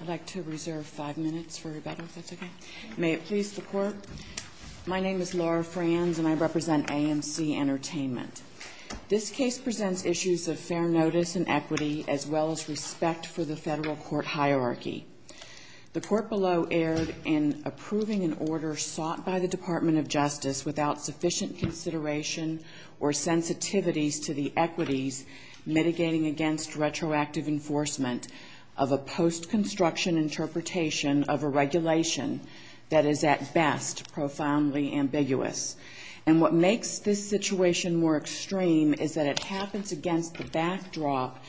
I'd like to reserve five minutes for rebuttal, if that's okay. May it please the Court? My name is Laura Franz, and I represent AMC Entertainment. This case presents issues of fair notice and equity, as well as respect for the federal court hierarchy. The Court below erred in approving an order sought by the Department of Justice without sufficient consideration or sensitivities to the equities mitigating against retroactive enforcement of a post-construction interpretation of a regulation that is, at best, profoundly ambiguous. And what makes this situation more extreme is that it happens against the backdrop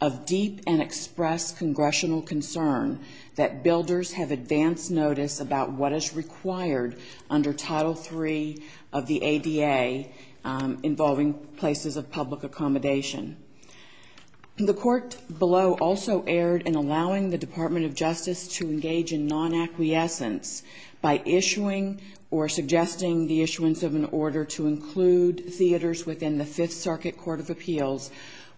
of deep and express congressional concern that builders have advanced notice about what is required under Title III of the ADA involving places of public accommodation. The Court below also erred in allowing the Department of Justice to engage in non-acquiescence by issuing or suggesting the issuance of an order to include theaters within the Fifth Circuit Court of Appeals,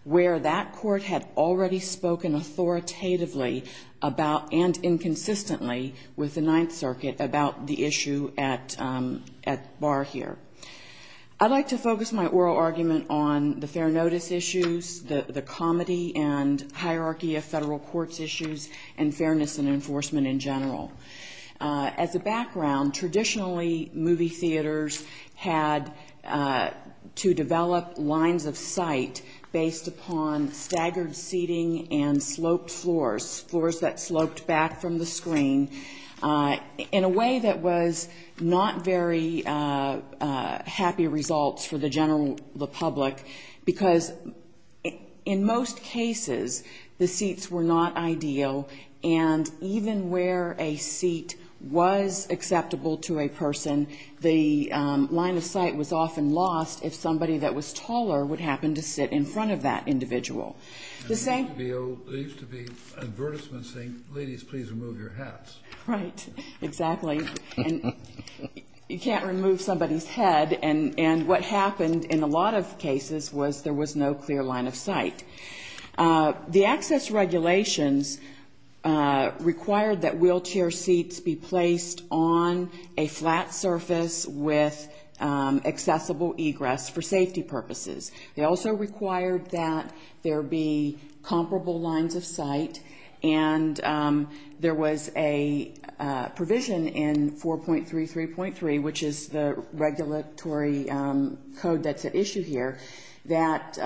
where that Court had already spoken authoritatively about and inconsistently with the Ninth Circuit about the issue at bar here. I'd like to focus my oral argument on the fair notice issues, the comedy and hierarchy of federal courts issues, and fairness and enforcement in general. As a background, traditionally movie theaters had to develop lines of sight based upon staggered seating and sloped floors, floors that sloped back from the screen, in a way that was not very happy results for the general public, because in most cases, the seats were not ideal, and even where a seat was acceptable to a person, the line of sight was often lost if somebody that was taller would happen to sit in front of that individual. There used to be advertisements saying, ladies, please remove your hats. Right, exactly. You can't remove somebody's head, and what happened in a lot of cases was there was no clear line of sight. The access regulations required that wheelchair seats be placed on a flat surface with accessible egress for safety purposes. They also required that there be comparable lines of sight, and there was a provision in 4.33.3, which is the regulatory code that's at issue here, that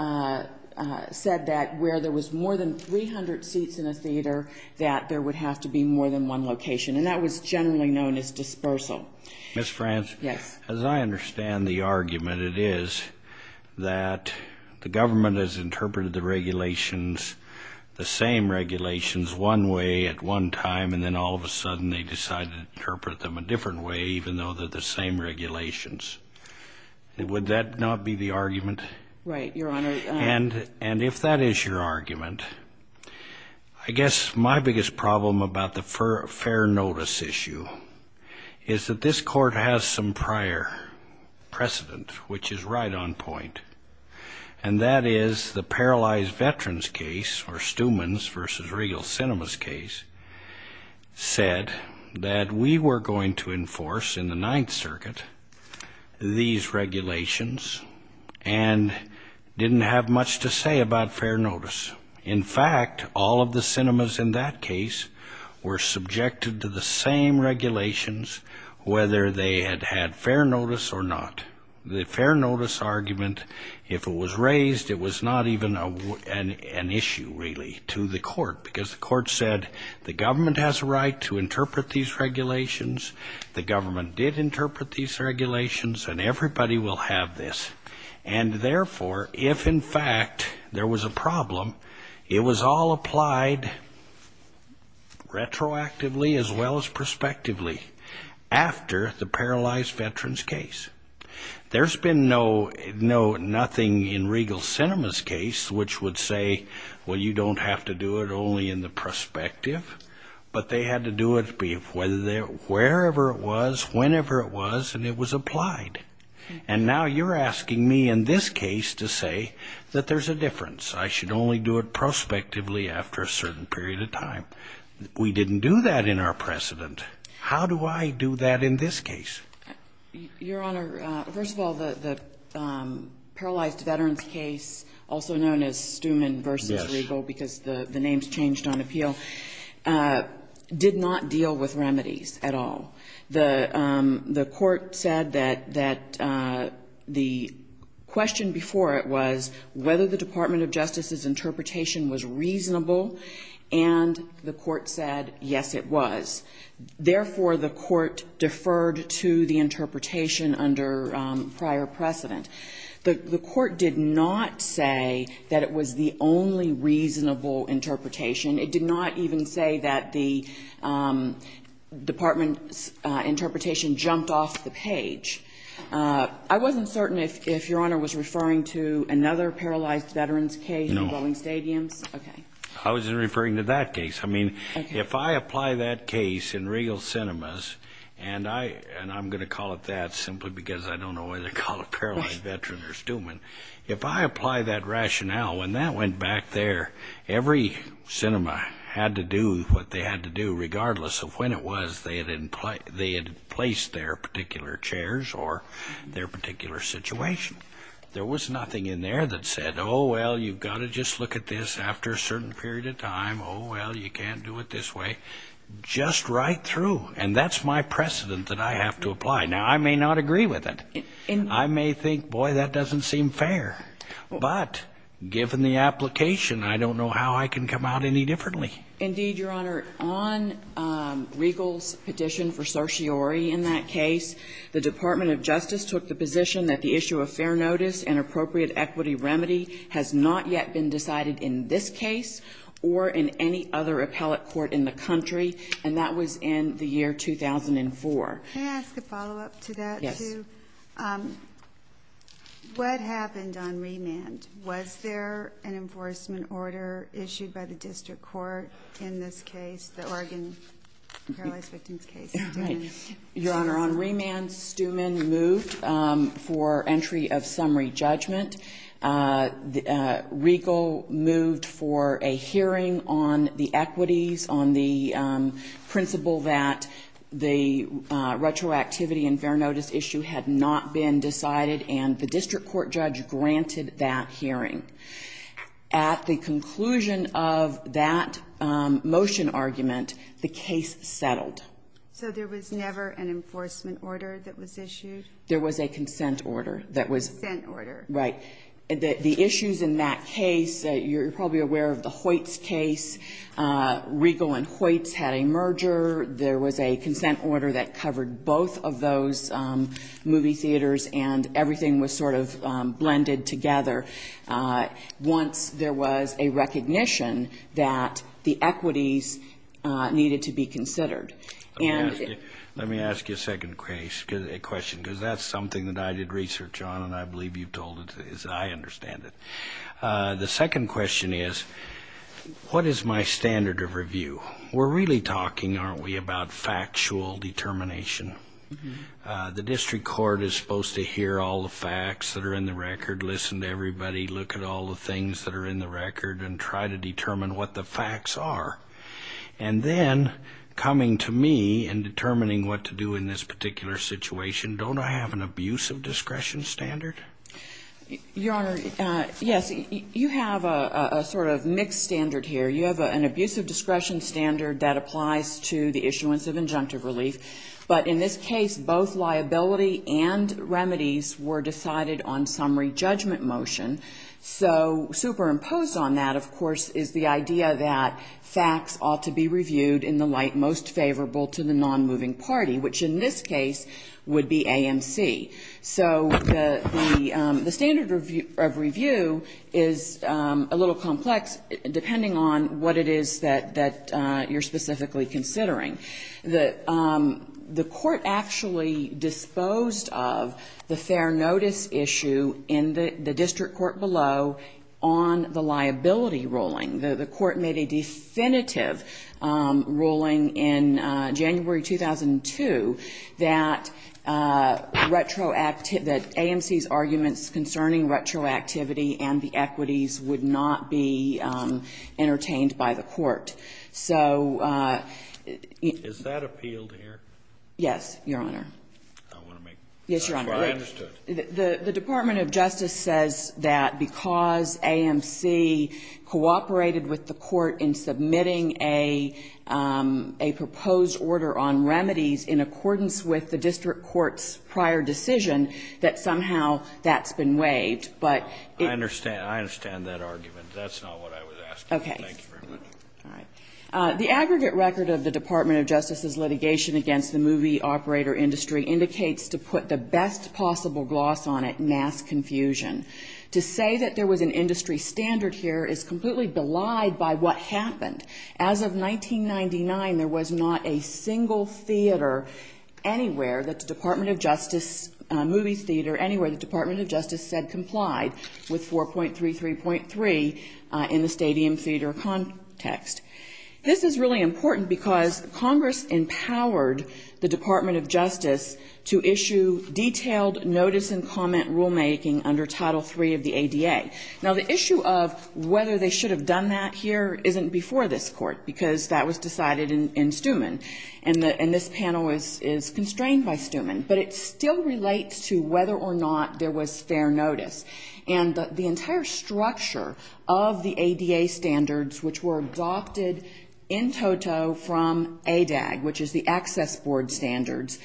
said that where there was more than 300 seats in a theater, that there would have to be more than one location, and that was generally known as dispersal. Ms. France, as I understand the argument, it is that the government has interpreted the regulations, the same regulations, one way at one time, and then all of a sudden they decided to interpret them a different way, even though they're the same regulations. Would that not be the argument? Right, Your Honor. And if that is your argument, I guess my biggest problem about the fair notice issue is that this court has some prior precedent, which is right on point, and that is the Paralyzed Veterans case, or Stumann's v. Regal Sinema's case, said that we were going to enforce in the Ninth Circuit these regulations and didn't have much to say about fair notice. In fact, all of the Sinemas in that case were subjected to the same regulations, whether they had had fair notice or not. The fair notice argument, if it was raised, it was not even an issue, really, to the court, because the court said the government has a right to interpret these regulations, the government did interpret these regulations, and everybody will have this. And therefore, if in fact there was a problem, it was all applied retroactively as well as prospectively after the Paralyzed Veterans case. There's been nothing in Regal Sinema's case which would say, well, you don't have to do it only in the prospective, but they had to do it wherever it was, whenever it was, and it was applied. And now you're asking me in this case to say that there's a difference, I should only do it prospectively after a certain period of time. We didn't do that in our precedent. How do I do that in this case? Your Honor, first of all, the Paralyzed Veterans case, also known as Stumann v. Regal, because the names changed on appeal, did not deal with remedies at all. The court said that the question before it was whether the Department of Justice's interpretation was reasonable, and the court said, yes, it was. Therefore, the court deferred to the interpretation under prior precedent. The court did not say that it was the only reasonable interpretation. It did not even say that the Department's interpretation jumped off the page. I wasn't certain if Your Honor was referring to another Paralyzed Veterans case in Bowling Stadium. No. Okay. I wasn't referring to that case. I mean, if I apply that case in Regal Sinema's, and I'm going to call it that simply because I don't know whether to call it Paralyzed Veterans or Stumann, if I apply that rationale, when that went back there, every Sinema had to do what they had to do, regardless of when it was they had placed their particular chairs or their particular situation. There was nothing in there that said, oh, well, you've got to just look at this after a certain period of time, oh, well, you can't do it this way, just right through. And that's my precedent that I have to apply. Now, I may not agree with it. I may think, boy, that doesn't seem fair. But given the application, I don't know how I can come out any differently. Indeed, Your Honor. On Regal's petition for certiorari in that case, the Department of Justice took the position that the issue of fair notice and appropriate equity remedy has not yet been decided in this case or in any other appellate court in the country. And that was in the year 2004. May I ask a follow-up to that, too? Yes. What happened on remand? Was there an enforcement order issued by the district court in this case, the Oregon paralyzed victims case? Your Honor, on remand, Steumann moved for entry of summary judgment. Regal moved for a hearing on the equities, on the principle that the retroactivity and fair notice issue had not been decided, and the district court judge granted that hearing. At the conclusion of that motion argument, the case settled. So there was never an enforcement order that was issued? There was a consent order that was issued. Consent order. Right. The issues in that case, you're probably aware of the Hoyts case. Regal and Hoyts had a merger. There was a consent order that covered both of those movie theaters, and everything was sort of blended together once there was a recognition that the equities needed to be considered. Let me ask you a second question, because that's something that I did research on, and I believe you've told it as I understand it. The second question is, what is my standard of review? We're really talking, aren't we, about factual determination. The district court is supposed to hear all the facts that are in the record, listen to everybody, look at all the things that are in the record, and try to determine what the facts are. And then coming to me and determining what to do in this particular situation, don't I have an abusive discretion standard? Your Honor, yes. You have a sort of mixed standard here. You have an abusive discretion standard that applies to the issuance of injunctive relief, but in this case, both liability and remedies were decided on summary judgment motion. So superimposed on that, of course, is the idea that facts ought to be reviewed in the light most favorable to the nonmoving party, which in this case would be the AMC. So the standard of review is a little complex, depending on what it is that you're specifically considering. The court actually disposed of the fair notice issue in the district court below on the liability ruling. The court made a definitive ruling in January 2002 that retroactive AMC's arguments concerning retroactivity and the equities would not be entertained by the court. So you can't. Is that appealed here? Yes, Your Honor. I want to make sure I understood. The Department of Justice says that because AMC cooperated with the court in submitting a proposed order on remedies in accordance with the district court's prior decision, that somehow that's been waived. But it's not. I understand. I understand that argument. That's not what I was asking. Okay. Thank you very much. All right. The aggregate record of the Department of Justice's litigation against the movie indicates to put the best possible gloss on it, mass confusion. To say that there was an industry standard here is completely belied by what happened. As of 1999, there was not a single theater anywhere that the Department of Justice movies theater, anywhere the Department of Justice said complied with 4.33.3 in the stadium theater context. This is really important because Congress empowered the Department of Justice to issue detailed notice and comment rulemaking under Title III of the ADA. Now, the issue of whether they should have done that here isn't before this Court because that was decided in Stumann. And this panel is constrained by Stumann. But it still relates to whether or not there was fair notice. And the entire structure of the ADA standards, which were adopted in toto from ADAG, which is the access board standards,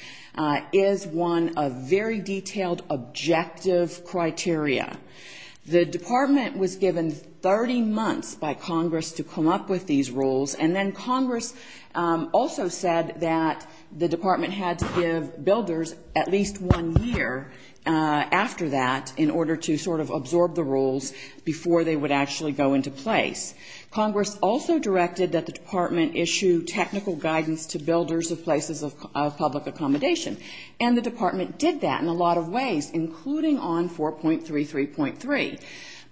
is one of very detailed objective criteria. The department was given 30 months by Congress to come up with these rules. And then Congress also said that the department had to give builders at least one year after that in order to sort of absorb the rules before they would actually go into place. Congress also directed that the department issue technical guidance to builders of places of public accommodation. And the department did that in a lot of ways, including on 4.33.3.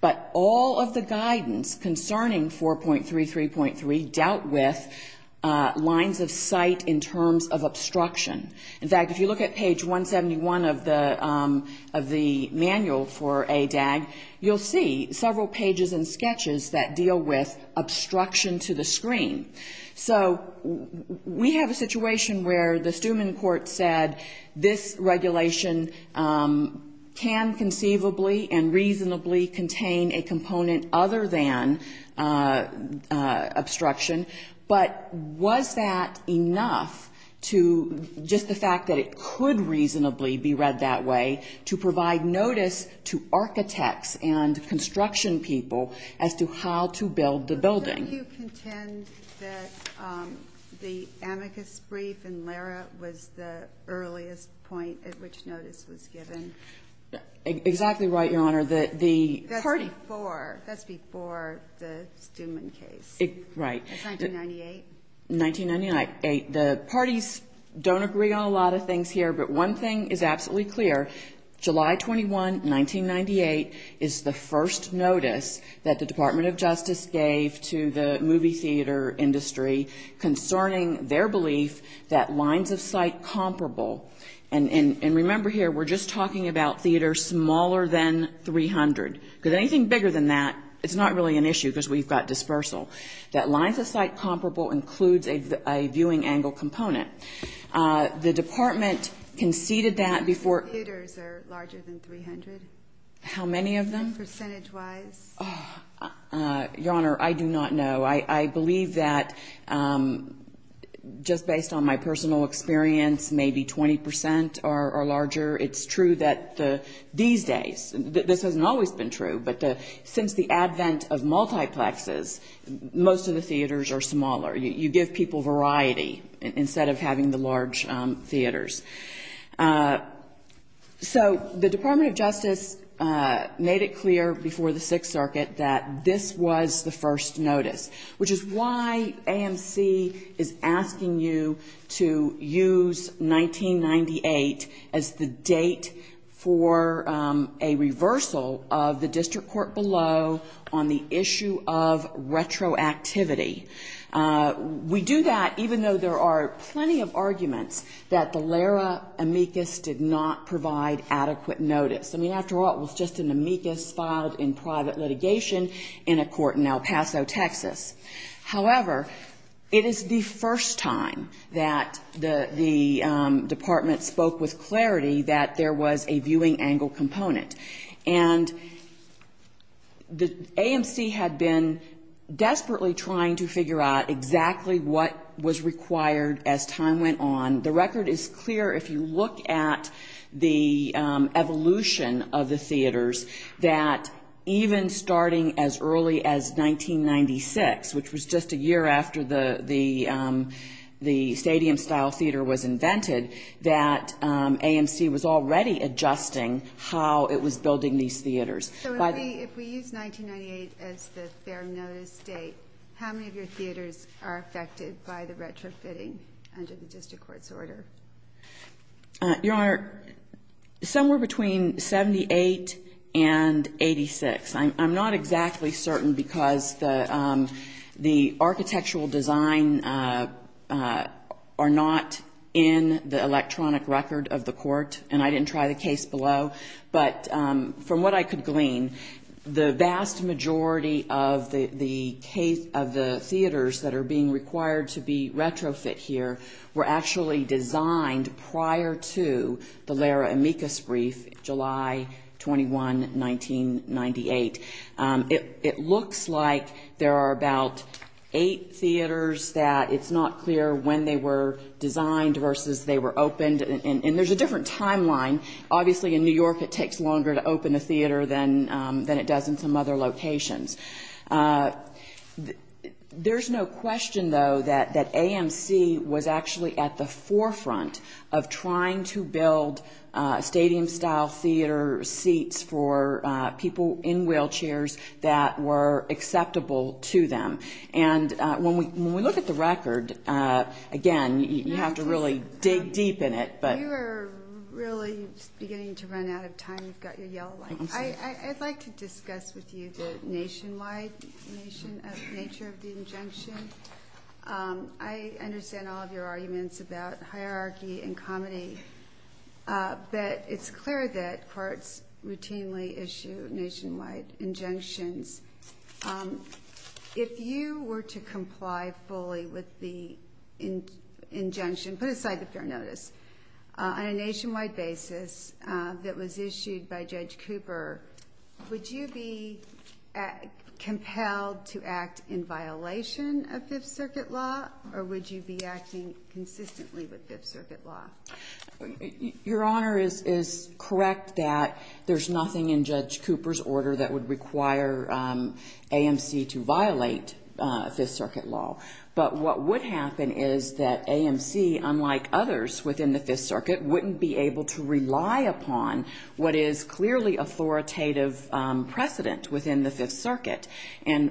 But all of the guidance concerning 4.33.3 dealt with lines of sight in terms of obstruction. In fact, if you look at page 171 of the manual for ADAG, you'll see several pages and sketches that deal with obstruction to the screen. So we have a situation where the Stumann court said this regulation can conceivably and reasonably contain a component other than obstruction. But was that enough to just the fact that it could reasonably be read that way to provide notice to architects and construction people as to how to build the building? But don't you contend that the amicus brief in Lara was the earliest point at which notice was given? Exactly right, Your Honor. That's before the Stumann case. Right. That's 1998. 1998. The parties don't agree on a lot of things here, but one thing is absolutely clear. July 21, 1998 is the first notice that the Department of Justice gave to the movie theater industry concerning their belief that lines of sight comparable. And remember here, we're just talking about theaters smaller than 300. Because anything bigger than that, it's not really an issue because we've got dispersal. That lines of sight comparable includes a viewing angle component. The Department conceded that before. The theaters are larger than 300. How many of them? Percentage-wise. Your Honor, I do not know. I believe that just based on my personal experience, maybe 20 percent are larger. It's true that these days, this hasn't always been true, but since the advent of multiplexes, most of the theaters are smaller. You give people variety instead of having the large theaters. So the Department of Justice made it clear before the Sixth Circuit that this was the first notice, which is why AMC is asking you to use 1998 as the date for a reversal of the district court below on the issue of retroactivity. We do that even though there are plenty of arguments that the LARA amicus did not provide adequate notice. I mean, after all, it was just an amicus filed in private litigation in a court in El Paso, Texas. However, it is the first time that the Department spoke with clarity that there was a viewing angle component. And AMC had been desperately trying to figure out exactly what was required as time went on. The record is clear if you look at the evolution of the theaters, that even starting as early as 1996, which was just a year after the stadium-style theater was invented, that AMC was already adjusting how it was building these theaters. So if we use 1998 as the fair notice date, how many of your theaters are affected by the retrofitting under the district court's order? Your Honor, somewhere between 78 and 86. I'm not exactly certain because the architectural design are not in the electronic record of the court. And I didn't try the case below. But from what I could glean, the vast majority of the theaters that are being required to be retrofit here were actually designed prior to the LARA amicus brief, July 21, 1998. It looks like there are about eight theaters that it's not clear when they were designed versus they were opened. And there's a different timeline. Obviously in New York it takes longer to open a theater than it does in some other locations. There's no question, though, that AMC was actually at the forefront of trying to build stadium-style theater seats for people in wheelchairs that were acceptable to them. And when we look at the record, again, you have to really dig deep in it. You are really beginning to run out of time. You've got your yellow light. I'd like to discuss with you the nationwide nature of the injunction. I understand all of your arguments about hierarchy and comedy. But it's clear that courts routinely issue nationwide injunctions. If you were to comply fully with the injunction, put aside the fair notice, on a nationwide basis that was issued by Judge Cooper, would you be compelled to act in violation of Fifth Circuit law, or would you be acting consistently with Fifth Circuit law? Your Honor is correct that there's nothing in Judge Cooper's order that would require AMC to violate Fifth Circuit law. But what would happen is that AMC, unlike others within the Fifth Circuit, wouldn't be able to rely upon what is clearly authoritative precedent within the Fifth Circuit, and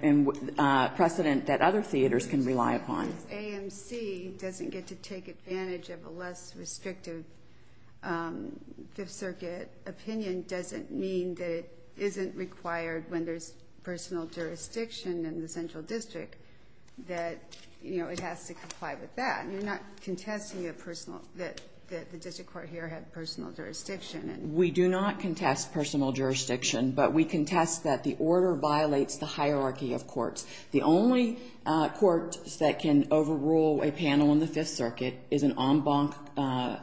precedent that other theaters can rely upon. AMC doesn't get to take advantage of a less restrictive Fifth Circuit opinion doesn't mean that it isn't required when there's personal jurisdiction in the central district that it has to comply with that. You're not contesting that the district court here had personal jurisdiction. We do not contest personal jurisdiction, but we contest that the order violates the hierarchy of courts. The only court that can overrule a panel in the Fifth Circuit is an en banc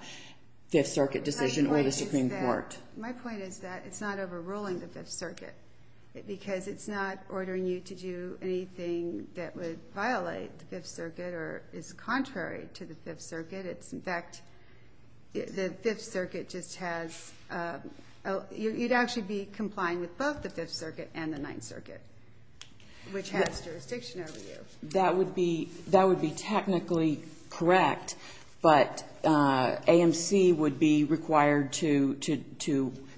Fifth Circuit decision or the Supreme Court. My point is that it's not overruling the Fifth Circuit, because it's not ordering you to do anything that would violate the Fifth Circuit or is contrary to the Fifth Circuit. It's, in fact, the Fifth Circuit just has, you'd actually be complying with both the Fifth Circuit and the Ninth Circuit, which has jurisdiction over you. That would be, that would be technically correct, but AMC would be required to,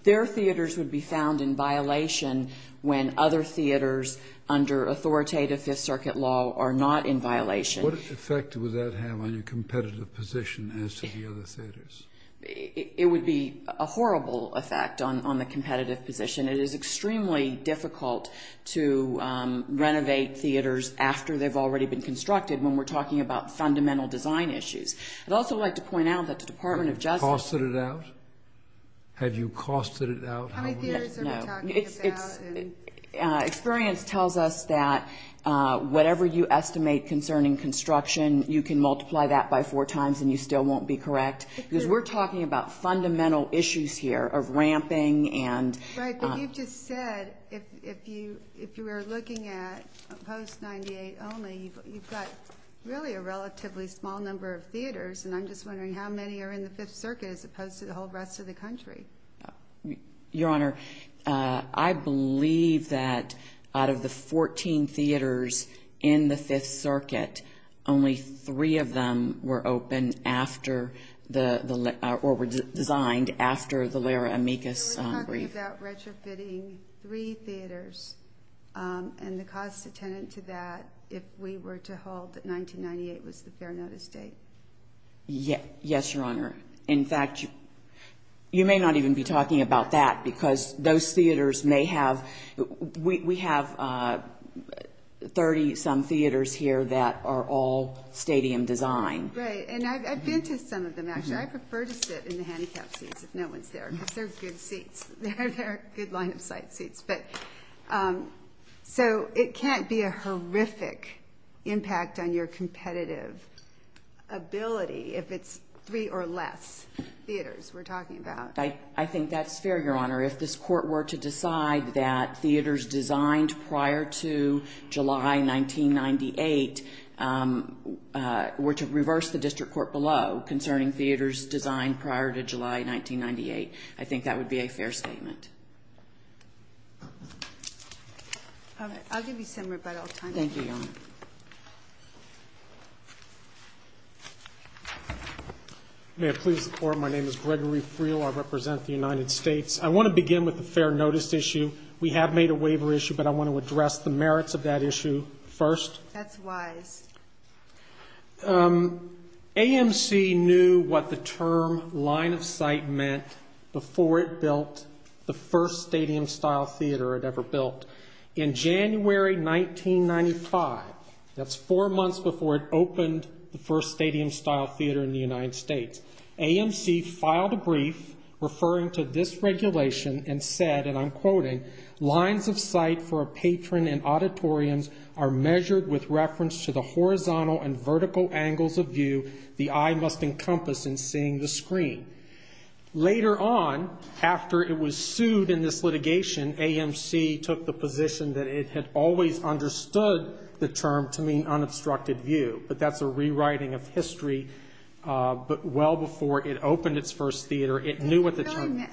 their theaters would be found in violation when other theaters under authoritative Fifth Circuit law are not in violation. What effect would that have on your competitive position as to the other theaters? It would be a horrible effect on the competitive position. It is extremely difficult to renovate theaters after they've already been constructed when we're talking about fundamental design issues. I'd also like to point out that the Department of Justice... Have you costed it out? No. Experience tells us that whatever you estimate concerning construction, you can multiply that by four times and you still won't be correct. Because we're talking about fundamental issues here of ramping and... Right, but you've just said if you were looking at post-'98 only, you've got really a relatively small number of theaters, and I'm just wondering how many are in the Fifth Circuit as opposed to the whole rest of the country. Your Honor, I believe that out of the 14 theaters in the Fifth Circuit, only three of them were open after the, or were designed after the Lara Amicus brief. We're talking about retrofitting three theaters, and the cost attendant to that, if we were to hold that 1998 was the fair notice date. Yes, Your Honor. In fact, you may not even be talking about that, because those theaters may have... We have 30-some theaters here that are all stadium design. Right, and I've been to some of them, actually. I prefer to sit in the handicap seats if no one's there, because they're good seats. They're good line-of-sight seats. So it can't be a horrific impact on your competitive ability if it's three or less theaters we're talking about. I think that's fair, Your Honor. If this Court were to decide that theaters designed prior to July 1998 were to reverse the district court below concerning theaters designed prior to July 1998, I think that would be a fair statement. All right. I'll give you some rebuttal time. Thank you, Your Honor. May I please report? My name is Gregory Friel. I represent the United States. I want to begin with the fair notice issue. We have made a waiver issue, but I want to address the merits of that issue first. That's wise. AMC knew what the term line-of-sight meant before it built the first stadium-style theater it ever built. In January 1995, that's four months before it opened the first stadium-style theater in the United States, AMC filed a brief referring to this regulation and said, and I'm quoting, lines of sight for a patron in auditoriums are measured with reference to the horizontal and vertical angles of view the eye must encompass in seeing the screen. Later on, after it was sued in this litigation, AMC took the position that it had always understood the term to mean unobstructed view, but that's a rewriting of history. But well before it opened its first theater, it knew what the term meant.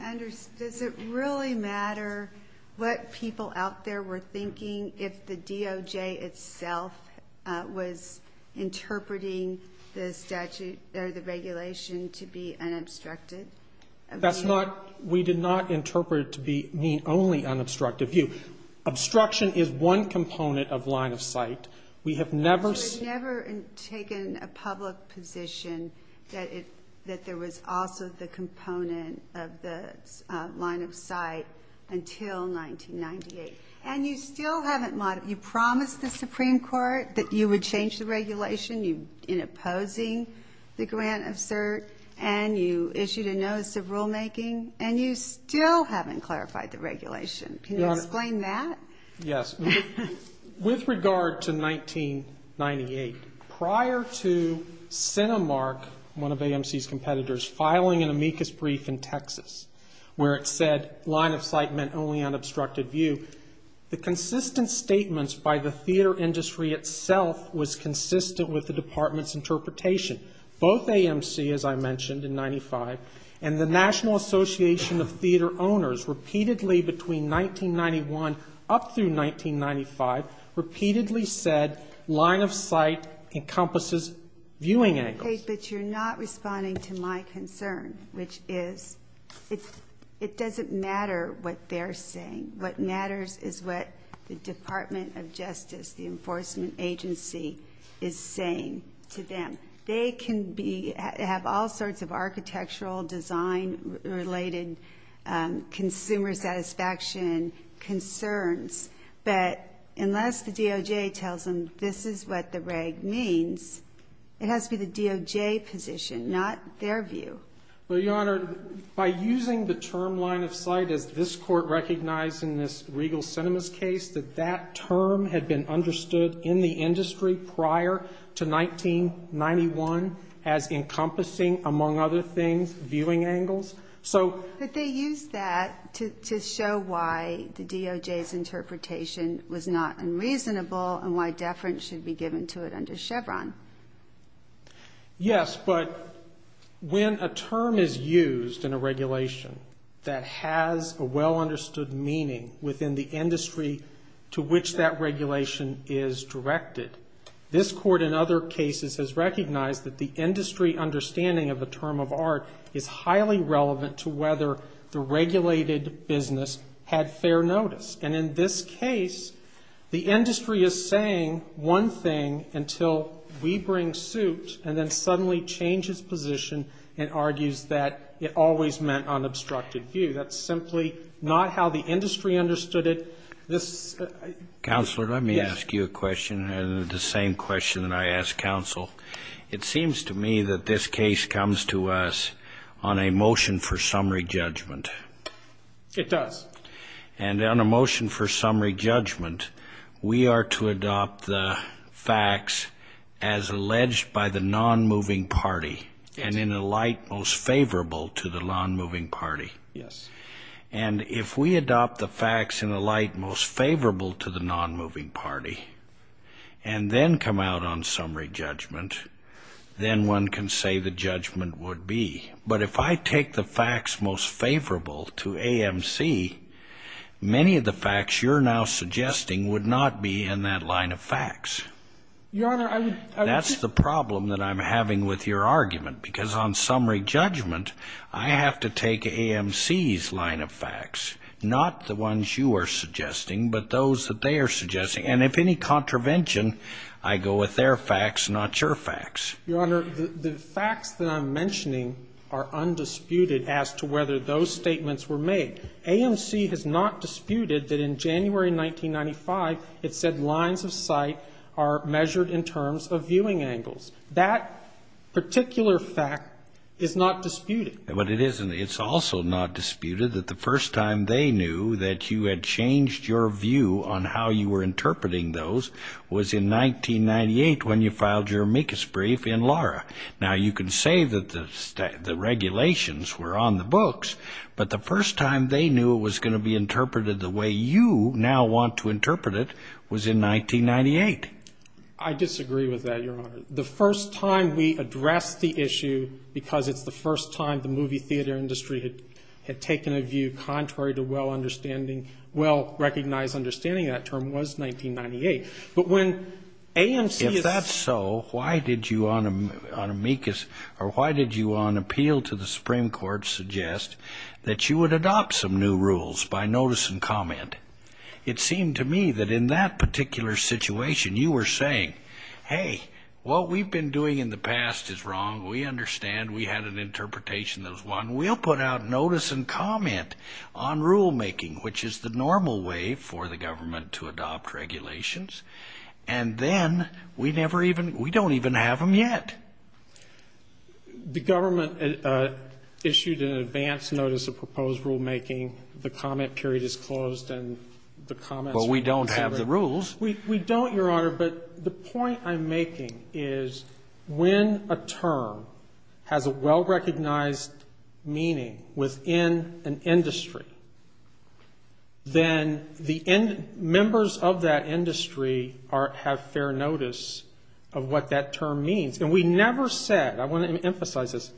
Does it really matter what people out there were thinking if the DOJ itself was interpreting the statute or the regulation to be unobstructed? That's not, we did not interpret it to mean only unobstructed view. Obstruction is one component of line-of-sight. We have never taken a public position that there was also the component of the line-of-sight until 1998. And you still haven't, you promised the Supreme Court that you would change the regulation in opposing the grant of cert, and you issued a notice of rulemaking, and you still haven't clarified the regulation. Can you explain that? Yes. With regard to 1998, prior to CentiMark, one of AMC's competitors, filing an amicus brief in Texas, where it said line-of-sight meant only unobstructed view, the consistent statements by the theater industry itself was consistent with the department's interpretation. Both AMC, as I mentioned, in 1995, and the National Association of Theater Owners, repeatedly between 1991 up through 1995, repeatedly said line-of-sight encompasses viewing angles. But you're not responding to my concern, which is it doesn't matter what they're saying. What matters is what the Department of Justice, the enforcement agency, is saying to them. They can be, have all sorts of architectural design-related consumer satisfaction concerns, but unless the DOJ tells them this is what the reg means, it has to be the DOJ position, not their view. Well, Your Honor, by using the term line-of-sight, as this Court recognized in this Regal Sinemas case, that that term had been understood in the industry prior to 1991 as encompassing, among other things, viewing angles. But they used that to show why the DOJ's interpretation was not unreasonable and why deference should be given to it under Chevron. Yes, but when a term is used in a regulation that has a well-understood meaning within the industry to which that regulation is directed, this Court in other cases has recognized that the industry understanding of the term of art is highly relevant to whether the regulated business had fair notice. And in this case, the industry is saying one thing until we bring suit and then suddenly changes position and argues that it always meant unobstructed view. That's simply not how the industry understood it. Counselor, let me ask you a question, the same question that I asked counsel. It seems to me that this case comes to us on a motion for summary judgment. It does. And on a motion for summary judgment, we are to adopt the facts as alleged by the non-moving party and in a light most favorable to the non-moving party. Yes. And if we adopt the facts in a light most favorable to the non-moving party and then come out on summary judgment, then one can say the judgment would be. But if I take the facts most favorable to AMC, many of the facts you're now suggesting would not be in that line of facts. Your Honor, I would say that's the problem that I'm having with your argument, because on summary judgment, I have to take AMC's line of facts, not the ones you are suggesting, but those that they are suggesting. And if any contravention, I go with their facts, not your facts. Your Honor, the facts that I'm mentioning are undisputed as to whether those statements were made. AMC has not disputed that in January 1995, it said lines of sight are measured in terms of viewing angles. That particular fact is not disputed. But it isn't. It's also not disputed that the first time they knew that you had changed your view on how you were going to interpret it, they knew it was going to be interpreted the way you now want to interpret it, was in 1998. I disagree with that, Your Honor. The first time we addressed the issue, because it's the first time the movie theater industry had taken a view contrary to well-understanding, well-recognized understanding of that term, was 1998. If that's so, why did you on amicus, or why did you on appeal to the Supreme Court suggest that you would adopt some new rules by notice and comment? It seemed to me that in that particular situation you were saying, hey, what we've been doing in the past is wrong, we understand, we had an interpretation that was one, we'll put out notice and comment on rulemaking, which is the first time we've had a view contrary to well-recognized understanding of that term. And then we never even, we don't even have them yet. The government issued an advance notice of proposed rulemaking. The comment period is closed, and the comments were covered. Well, we don't have the rules. We don't, Your Honor, but the point I'm making is when a term has a well-recognized meaning within an industry, then the members of that industry have fair notice of what that term means. And we never said, I want to emphasize this,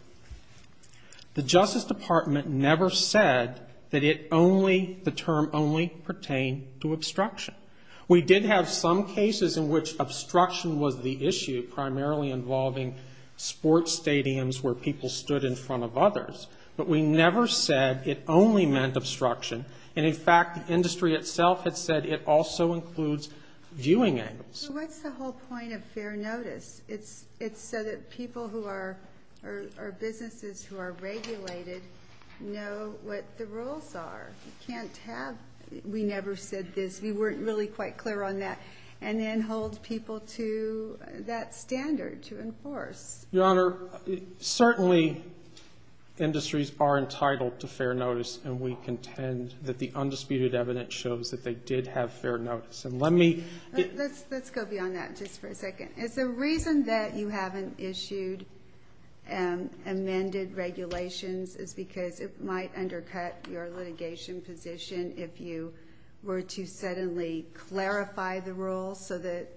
the Justice Department never said that it only, the term only pertained to obstruction. We did have some cases in which obstruction was the issue, primarily involving sports stadiums where people stood in front of others. But we never said it only meant obstruction. And, in fact, the industry itself had said it also includes viewing angles. So what's the whole point of fair notice? It's so that people who are, or businesses who are regulated know what the rules are. You can't have, we never said this. We weren't really quite clear on that. And then hold people to that standard to enforce. Your Honor, certainly industries are entitled to fair notice, and we contend that the undisputed evidence shows that they did have fair notice. Let's go beyond that just for a second. Is the reason that you haven't issued amended regulations is because it might undercut your litigation? position if you were to suddenly clarify the rules so that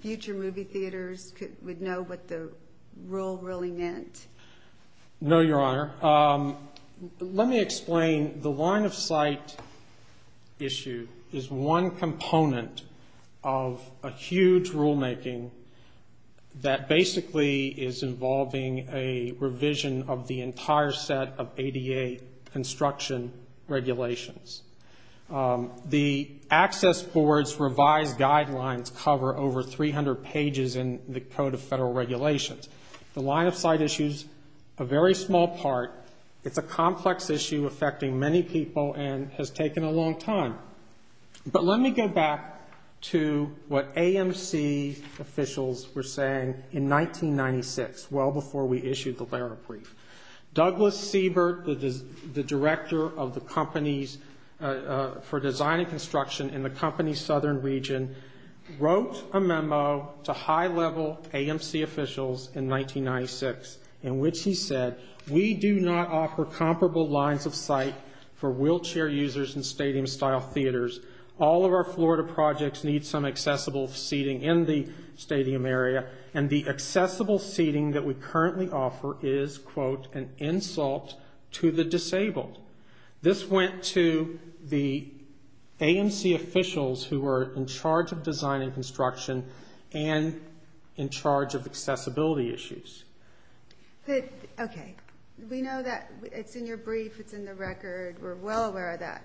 future movie theaters would know what the rule really meant? No, Your Honor. Let me explain. The line of sight issue is one component of a huge rulemaking that basically is involving a number of federal regulations. The access board's revised guidelines cover over 300 pages in the Code of Federal Regulations. The line of sight issue is a very small part. It's a complex issue affecting many people and has taken a long time. But let me go back to what AMC officials were saying in 1996, well before we issued the LARA brief. Douglas Siebert, the director for design and construction in the company's southern region, wrote a memo to high-level AMC officials in 1996 in which he said, we do not offer comparable lines of sight for wheelchair users in stadium-style theaters. All of our Florida projects need some accessible seating in the stadium area, and the accessible seating that we currently offer is quote, an insult to the disabled. This went to the AMC officials who were in charge of design and construction and in charge of accessibility issues. Okay. We know that. It's in your brief. It's in the record. We're well aware of that.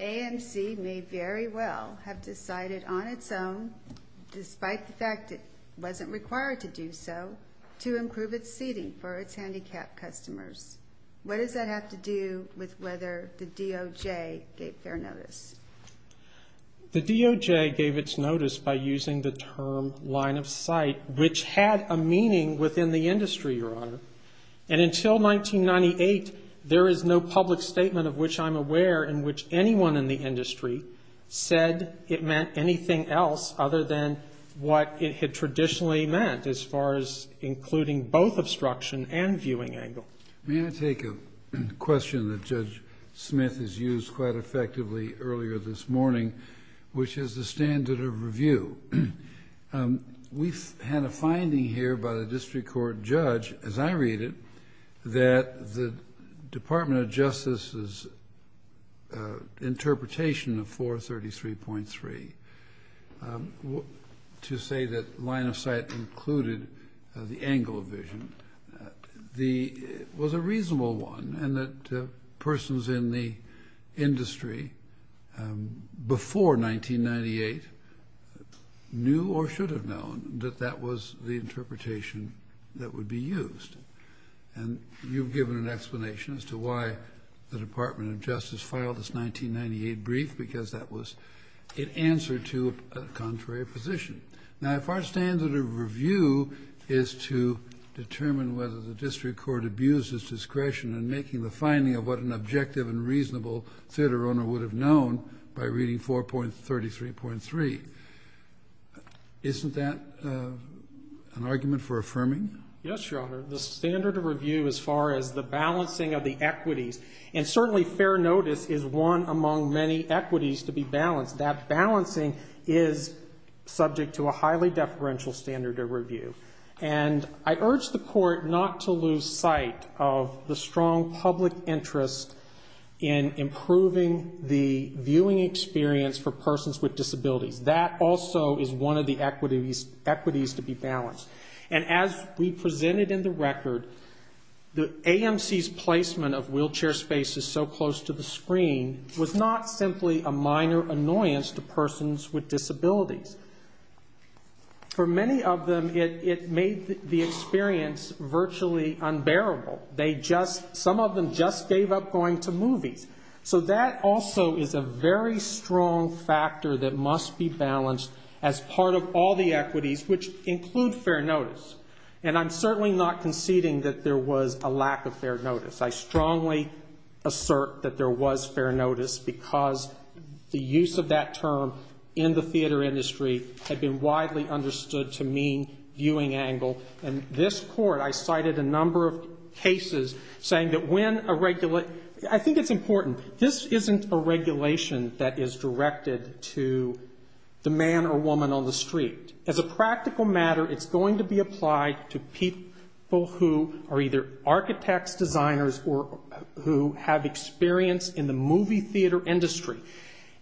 AMC may very well have decided on its own, despite the fact it wasn't required to do so, to improve its seating for its handicapped customers. What does that have to do with whether the DOJ gave fair notice? The DOJ gave its notice by using the term line of sight, which had a meaning within the industry, Your Honor. And until 1998, there is no public statement of which I'm aware in which anyone in the industry said it meant anything else other than what it had traditionally meant as far as including both obstruction and viewing angle. May I take a question that Judge Smith has used quite effectively earlier this morning, which is the standard of review. We've had a finding here by the district court judge, as I read it, that the Department of Justice's interpretation of 433.3 to say that line of sight included the angle of vision was a reasonable one, and that persons in the industry before 1998 knew or should have known that that was the interpretation that would be used. And you've given an explanation as to why the Department of Justice filed this 1998 brief, because it answered to a contrary position. Now, if our standard of review is to determine whether the district court abused its discretion in making the finding of what an objective and reasonable theater owner would have known by reading 4.33.3, isn't that an argument for affirming? Yes, Your Honor. The standard of review as far as the balancing of the equities, and certainly fair notice is one among many equities subject to a highly deferential standard of review. And I urge the Court not to lose sight of the strong public interest in improving the viewing experience for persons with disabilities. That also is one of the equities to be balanced. And as we presented in the record, the AMC's placement of wheelchair spaces so close to the screen was not simply a minor annoyance to persons with disabilities. For many of them, it made the experience virtually unbearable. Some of them just gave up going to movies. So that also is a very strong factor that must be balanced as part of all the equities, which include fair notice. And I'm certainly not conceding that there was a lack of fair notice. I strongly assert that there was fair notice because the use of that term in the theater industry had been widely understood to mean viewing angle. And this Court, I cited a number of cases saying that when a regular, I think it's important, this isn't a regulation that is directed to the man or woman on the street. As a practical matter, it's going to be applied to people who are either architects, designers, or who have experience in the movie theater industry.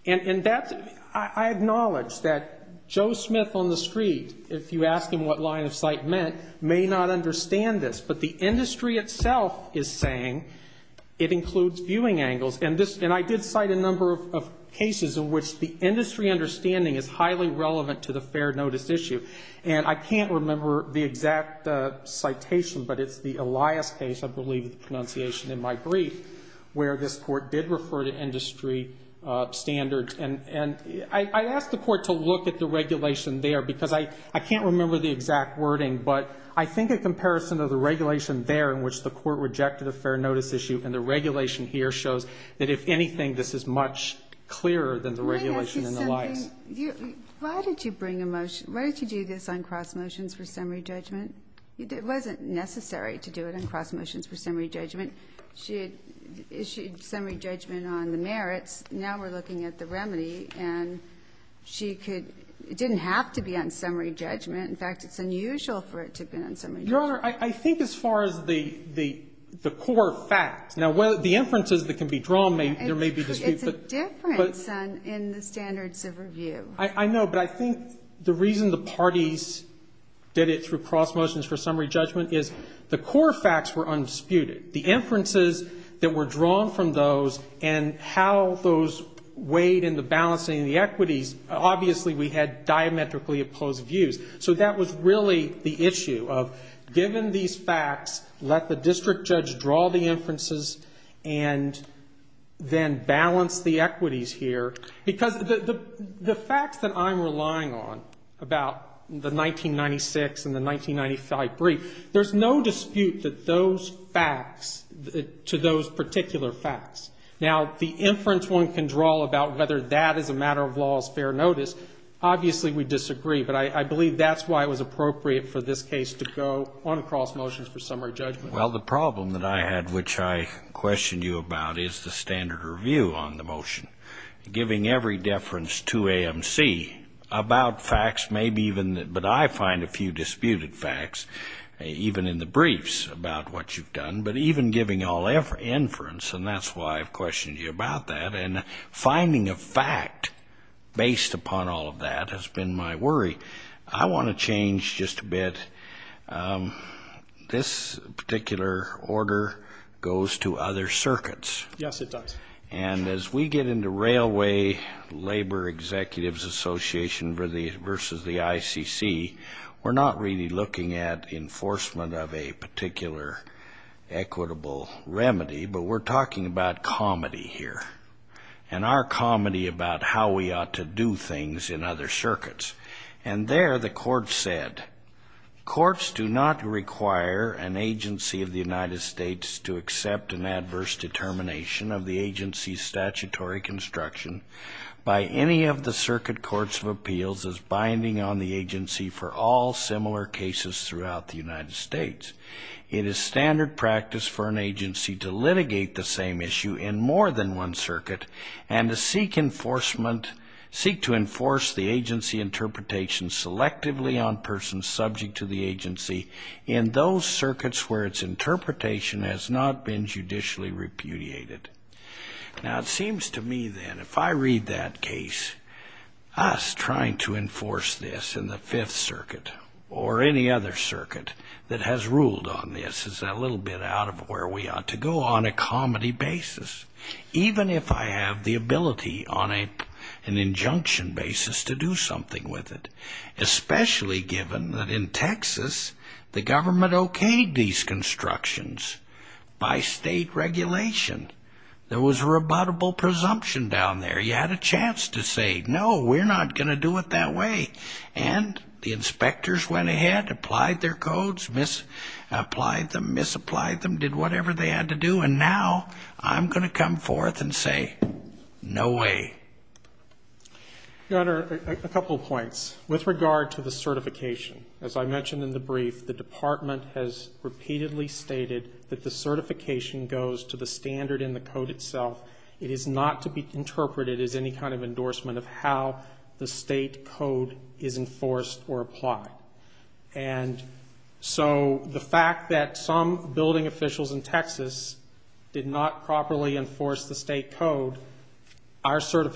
And that's, I acknowledge that Joe Smith on the street, if you ask him what line of sight meant, may not understand this. But the industry itself is saying it includes viewing angles. And this, and I did cite a number of cases in which the industry understanding is highly relevant to the fair notice issue. And I can't remember the exact citation, but it's the Elias case, I believe the pronunciation in my brief, where this Court did refer to industry standards. And I ask the Court to look at the regulation there because I can't remember the exact wording. But I think a comparison of the regulation there in which the Court rejected a fair notice issue and the regulation here shows that, if anything, this is much clearer than the regulation in Elias. Kagan. Why did you bring a motion? Why did you do this on cross motions for summary judgment? It wasn't necessary to do it on cross motions for summary judgment. She issued summary judgment on the merits. Now we're looking at the remedy, and she could, it didn't have to be on summary judgment. In fact, it's unusual for it to have been on summary judgment. Your Honor, I think as far as the core facts, now the inferences that can be drawn, there may be disputes. It's a difference in the standards of review. I know, but I think the reason the parties did it through cross motions for summary judgment is the core facts were undisputed. The inferences that were drawn from those and how those weighed in the balancing of the equities, obviously we had diametrically opposed views. So that was really the issue of, given these facts, let the district judge draw the inferences and then balance the equities here, because the facts that I'm relying on about the 1996 and the 1995 brief, there's no dispute that those facts, to those particular facts. Now, the inference one can draw about whether that is a matter of law as fair notice, obviously we disagree. But I believe that's why it was appropriate for this case to go on a cross motion for summary judgment. Well, the problem that I had which I questioned you about is the standard review on the motion. Giving every deference to AMC about facts, maybe even, but I find a few disputed facts, even in the briefs about what you've done, but even giving all inference, and that's why I've questioned you about that, and finding a fact based upon all of that has been my worry. I want to change just a bit. This particular order goes to other circuits. Yes, it does. And as we get into Railway Labor Executives Association versus the ICC, we're not really looking at enforcement of a particular equitable remedy, but we're talking about comedy here. And our comedy about how we ought to do things in other circuits, and there the court said, courts do not require an agency of the United States to accept an adverse determination of the agency's statutory construction by any of the circuit courts of appeals as binding on the agency for all similar cases throughout the United States. It is standard practice for an agency to litigate the same issue in more than one circuit, and to seek to enforce the agency interpretation selectively on persons subject to the agency in those circuits where its interpretation has not been judicially repudiated. Now, it seems to me, then, if I read that case, us trying to enforce this in the Fifth Circuit, or any other circuit that has ruled on this, is a little bit out of where we ought to go on a comedy basis, even if I have the ability on an injunction basis to do so. I think we ought to do something with it, especially given that in Texas, the government okayed these constructions by state regulation. There was a rebuttable presumption down there. You had a chance to say, no, we're not going to do it that way. And the inspectors went ahead, applied their codes, misapplied them, misapplied them, did whatever they had to do, and now I'm going to come forth and say, no way. So, a couple points. With regard to the certification, as I mentioned in the brief, the Department has repeatedly stated that the certification goes to the standard in the code itself. It is not to be interpreted as any kind of endorsement of how the state code is enforced or applied. And so, the fact that some building officials in Texas did not properly enforce the state code, our question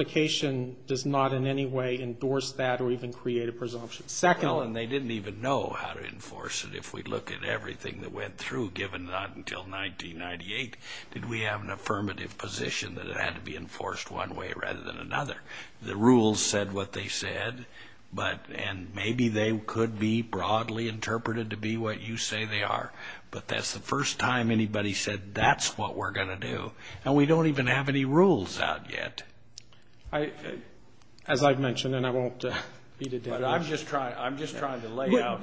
is, how did they do that, or even create a presumption? Second of all, and they didn't even know how to enforce it. If we look at everything that went through, given not until 1998, did we have an affirmative position that it had to be enforced one way rather than another? The rules said what they said, and maybe they could be broadly interpreted to be what you say they are. But that's the first time anybody said, that's what we're going to do. And we don't even have any rules out yet. But I'm just trying to lay out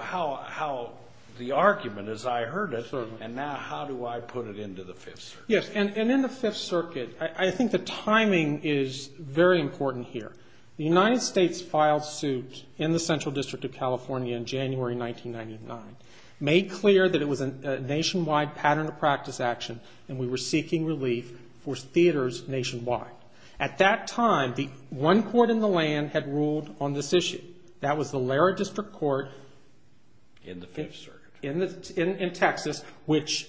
how the argument, as I heard it, and now how do I put it into the Fifth Circuit. Yes, and in the Fifth Circuit, I think the timing is very important here. The United States filed suit in the Central District of California in January 1999, made clear that it was a nationwide pattern of practice action, and we were seeking relief for theaters nationwide. And the Fifth Circuit ruled on this issue. That was the Lara District Court in Texas, which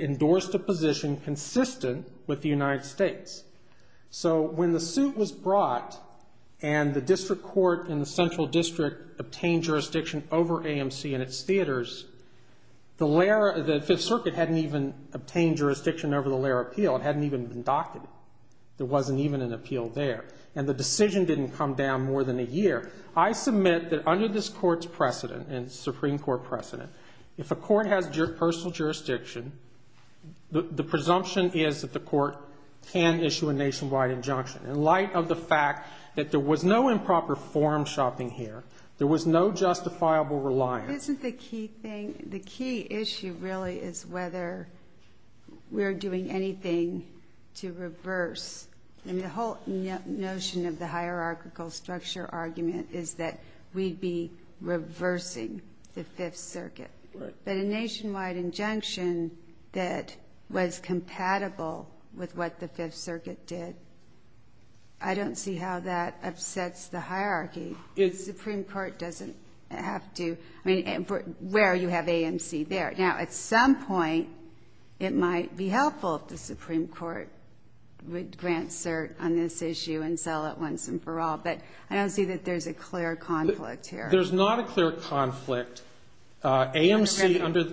endorsed a position consistent with the United States. So when the suit was brought, and the District Court in the Central District obtained jurisdiction over AMC and its theaters, the Fifth Circuit hadn't even obtained jurisdiction over the Lara appeal. It hadn't even been docketed. There wasn't even an appeal there. And the decision didn't come down more than a year. I submit that under this Court's precedent, and Supreme Court precedent, if a court has personal jurisdiction, the presumption is that the court can issue a nationwide injunction. In light of the fact that there was no improper forum shopping here, there was no justifiable reliance. Isn't the key thing, the key issue really is whether we're doing anything to reverse. I mean, the whole point of this is, the whole notion of the hierarchical structure argument is that we'd be reversing the Fifth Circuit. But a nationwide injunction that was compatible with what the Fifth Circuit did, I don't see how that upsets the hierarchy. The Supreme Court doesn't have to. I mean, where you have AMC there. Now, at some point, it might be helpful if the Supreme Court would grant cert on this issue and sell it once and for all. But I don't see that there's a clear conflict here. There's not a clear conflict. AMC under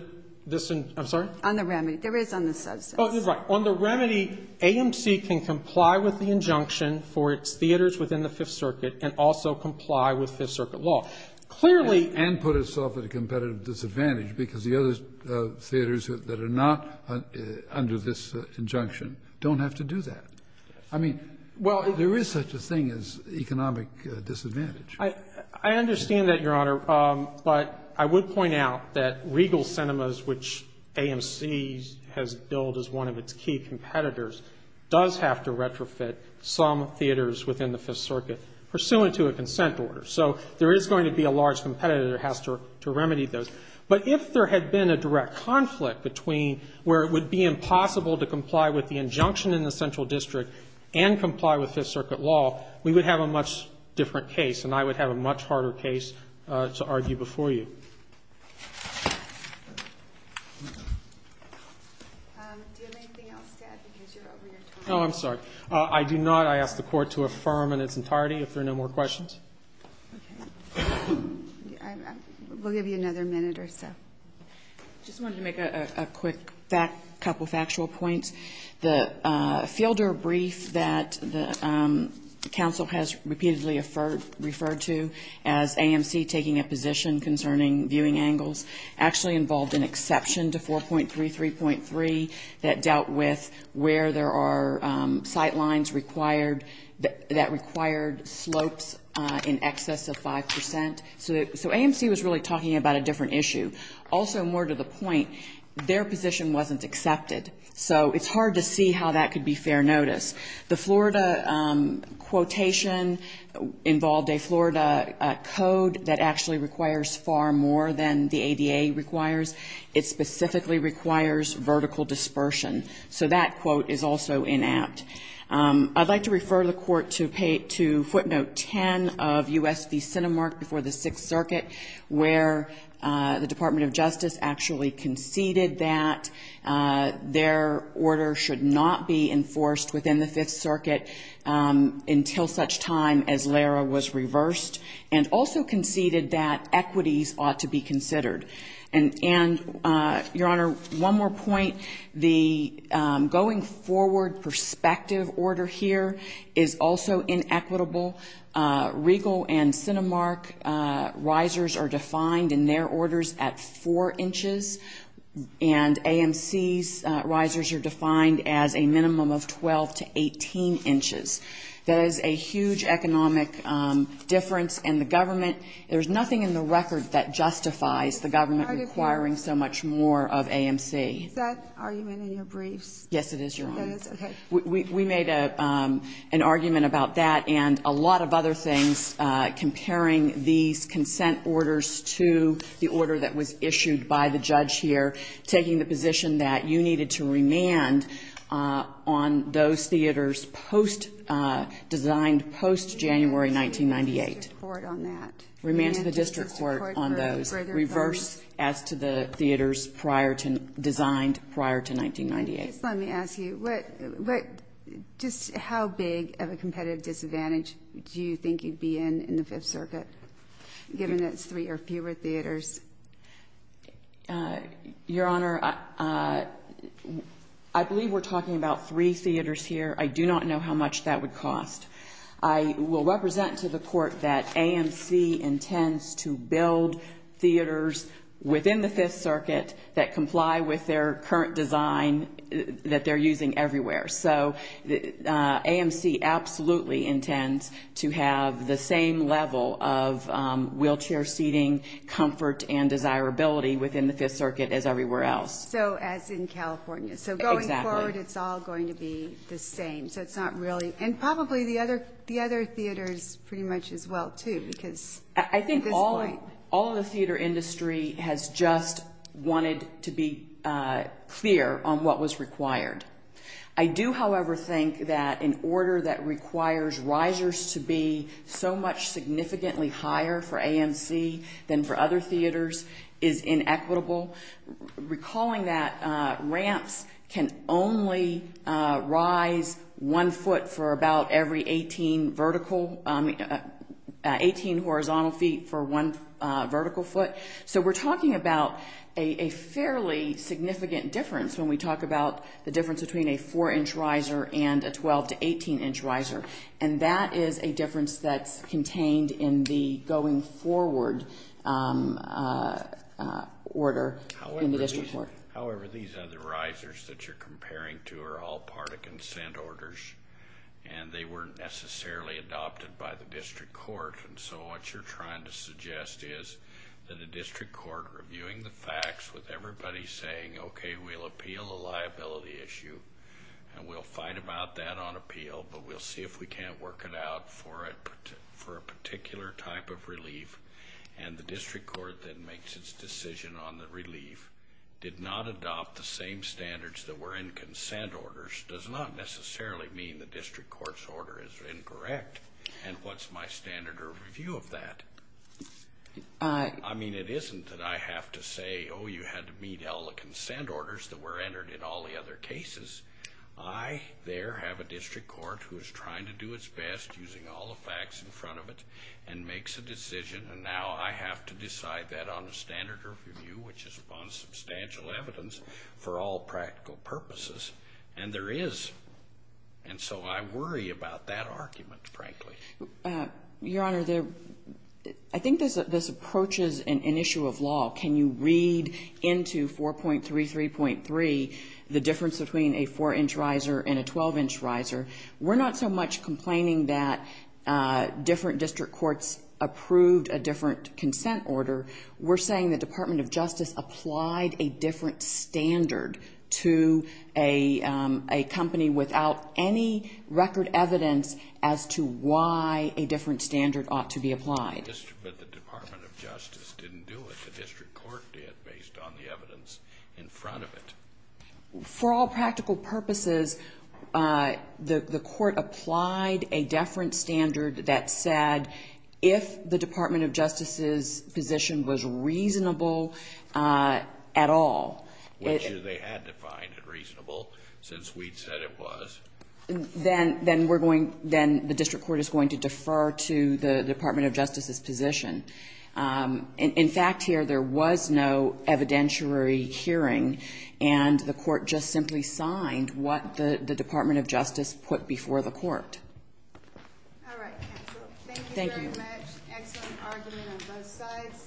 this. I'm sorry? On the remedy. There is on the substance. Oh, you're right. On the remedy, AMC can comply with the injunction for its theaters within the Fifth Circuit and also comply with Fifth Circuit law. Clearly. And put itself at a competitive disadvantage, because the other theaters that are not under this injunction don't have to do anything. They don't have to do that. I mean, there is such a thing as economic disadvantage. I understand that, Your Honor. But I would point out that Regal Cinemas, which AMC has billed as one of its key competitors, does have to retrofit some theaters within the Fifth Circuit pursuant to a consent order. So there is going to be a large competitor that has to remedy those. But if there had been a direct conflict between where it would be impossible to comply with the injunction in the Central Circuit and the Central District and comply with Fifth Circuit law, we would have a much different case. And I would have a much harder case to argue before you. Do you have anything else to add, because you're over your time? Oh, I'm sorry. I do not. I ask the Court to affirm in its entirety, if there are no more questions. We'll give you another minute or so. I just wanted to make a quick couple of factual points. The fielder brief that the Council has repeatedly referred to as AMC taking a position concerning viewing angles actually involved an exception to 4.33.3 that dealt with where there are sight lines that required slopes in excess of 5%. So AMC was really talking about a different issue. Also, more to the point, their position wasn't accepted. So it's hard to see how that could be fair notice. The Florida quotation involved a Florida code that actually requires far more than the ADA requires. It specifically requires vertical dispersion. So that quote is also inapt. I'd like to refer the Court to footnote 10 of U.S. v. Cinemark before the Senate. This is the 6th Circuit where the Department of Justice actually conceded that their order should not be enforced within the 5th Circuit until such time as LARA was reversed, and also conceded that equities ought to be considered. And, Your Honor, one more point. The going forward perspective order here is also inequitable. Regal and Cinemark risers are defined in their orders at 4 inches, and AMC's risers are defined as a minimum of 12 to 18 inches. That is a huge economic difference, and the government, there's nothing in the record that justifies the government requiring so much more of AMC. Is that argument in your briefs? No, Your Honor. We made an argument about that and a lot of other things comparing these consent orders to the order that was issued by the judge here, taking the position that you needed to remand on those theaters post-designed, post-January 1998. Remand to the district court on that. Just let me ask you, just how big of a competitive disadvantage do you think you'd be in in the 5th Circuit, given that it's three or fewer theaters? Your Honor, I believe we're talking about three theaters here. I do not know how much that would cost. I will represent to the Court that AMC intends to build theaters within the 5th Circuit that comply with their current design, that they're using everywhere. So AMC absolutely intends to have the same level of wheelchair seating, comfort, and desirability within the 5th Circuit as everywhere else. So as in California. Exactly. So going forward, it's all going to be the same, so it's not really, and probably the other theaters pretty much as well too, because at this point. I do, however, think that an order that requires risers to be so much significantly higher for AMC than for other theaters is inequitable. Recalling that ramps can only rise one foot for about every 18 vertical, 18 horizontal feet for one vertical foot. So we're talking about a fairly significant difference when we talk about the number of ramps. The difference between a 4-inch riser and a 12- to 18-inch riser, and that is a difference that's contained in the going-forward order in the district court. However, these other risers that you're comparing to are all part of consent orders, and they weren't necessarily adopted by the district court. And so what you're trying to suggest is that a district court reviewing the facts with everybody saying, okay, we'll appeal a liability issue, and we'll fight about that on appeal, but we'll see if we can't work it out for a particular type of relief, and the district court then makes its decision on the relief, did not adopt the same standards that were in consent orders, does not necessarily mean the district court's order is incorrect, and what's my standard of review of that? I mean, it isn't that I have to say, oh, you had to meet all the consent orders that were entered in all the other cases. I there have a district court who is trying to do its best, using all the facts in front of it, and makes a decision, and now I have to decide that on the standard of review, which is upon substantial evidence, for all practical purposes, and there is. And so I worry about that argument, frankly. I think this approaches an issue of law. Can you read into 4.33.3 the difference between a 4-inch riser and a 12-inch riser? We're not so much complaining that different district courts approved a different consent order. We're saying the Department of Justice applied a different standard to a company without any record evidence as to why a different standard ought to be applied. But the Department of Justice didn't do it. The district court did, based on the evidence in front of it. For all practical purposes, the court applied a different standard that said, if the Department of Justice's position was reasonable at all Which they had defined as reasonable, since we'd said it was then the district court is going to defer to the Department of Justice's position. In fact, here, there was no evidentiary hearing, and the court just simply signed what the Department of Justice put before the court. All right, counsel. Thank you very much. Excellent argument on both sides.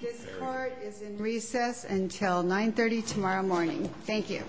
This court is in recess until 9.30 tomorrow morning. Thank you. All rise.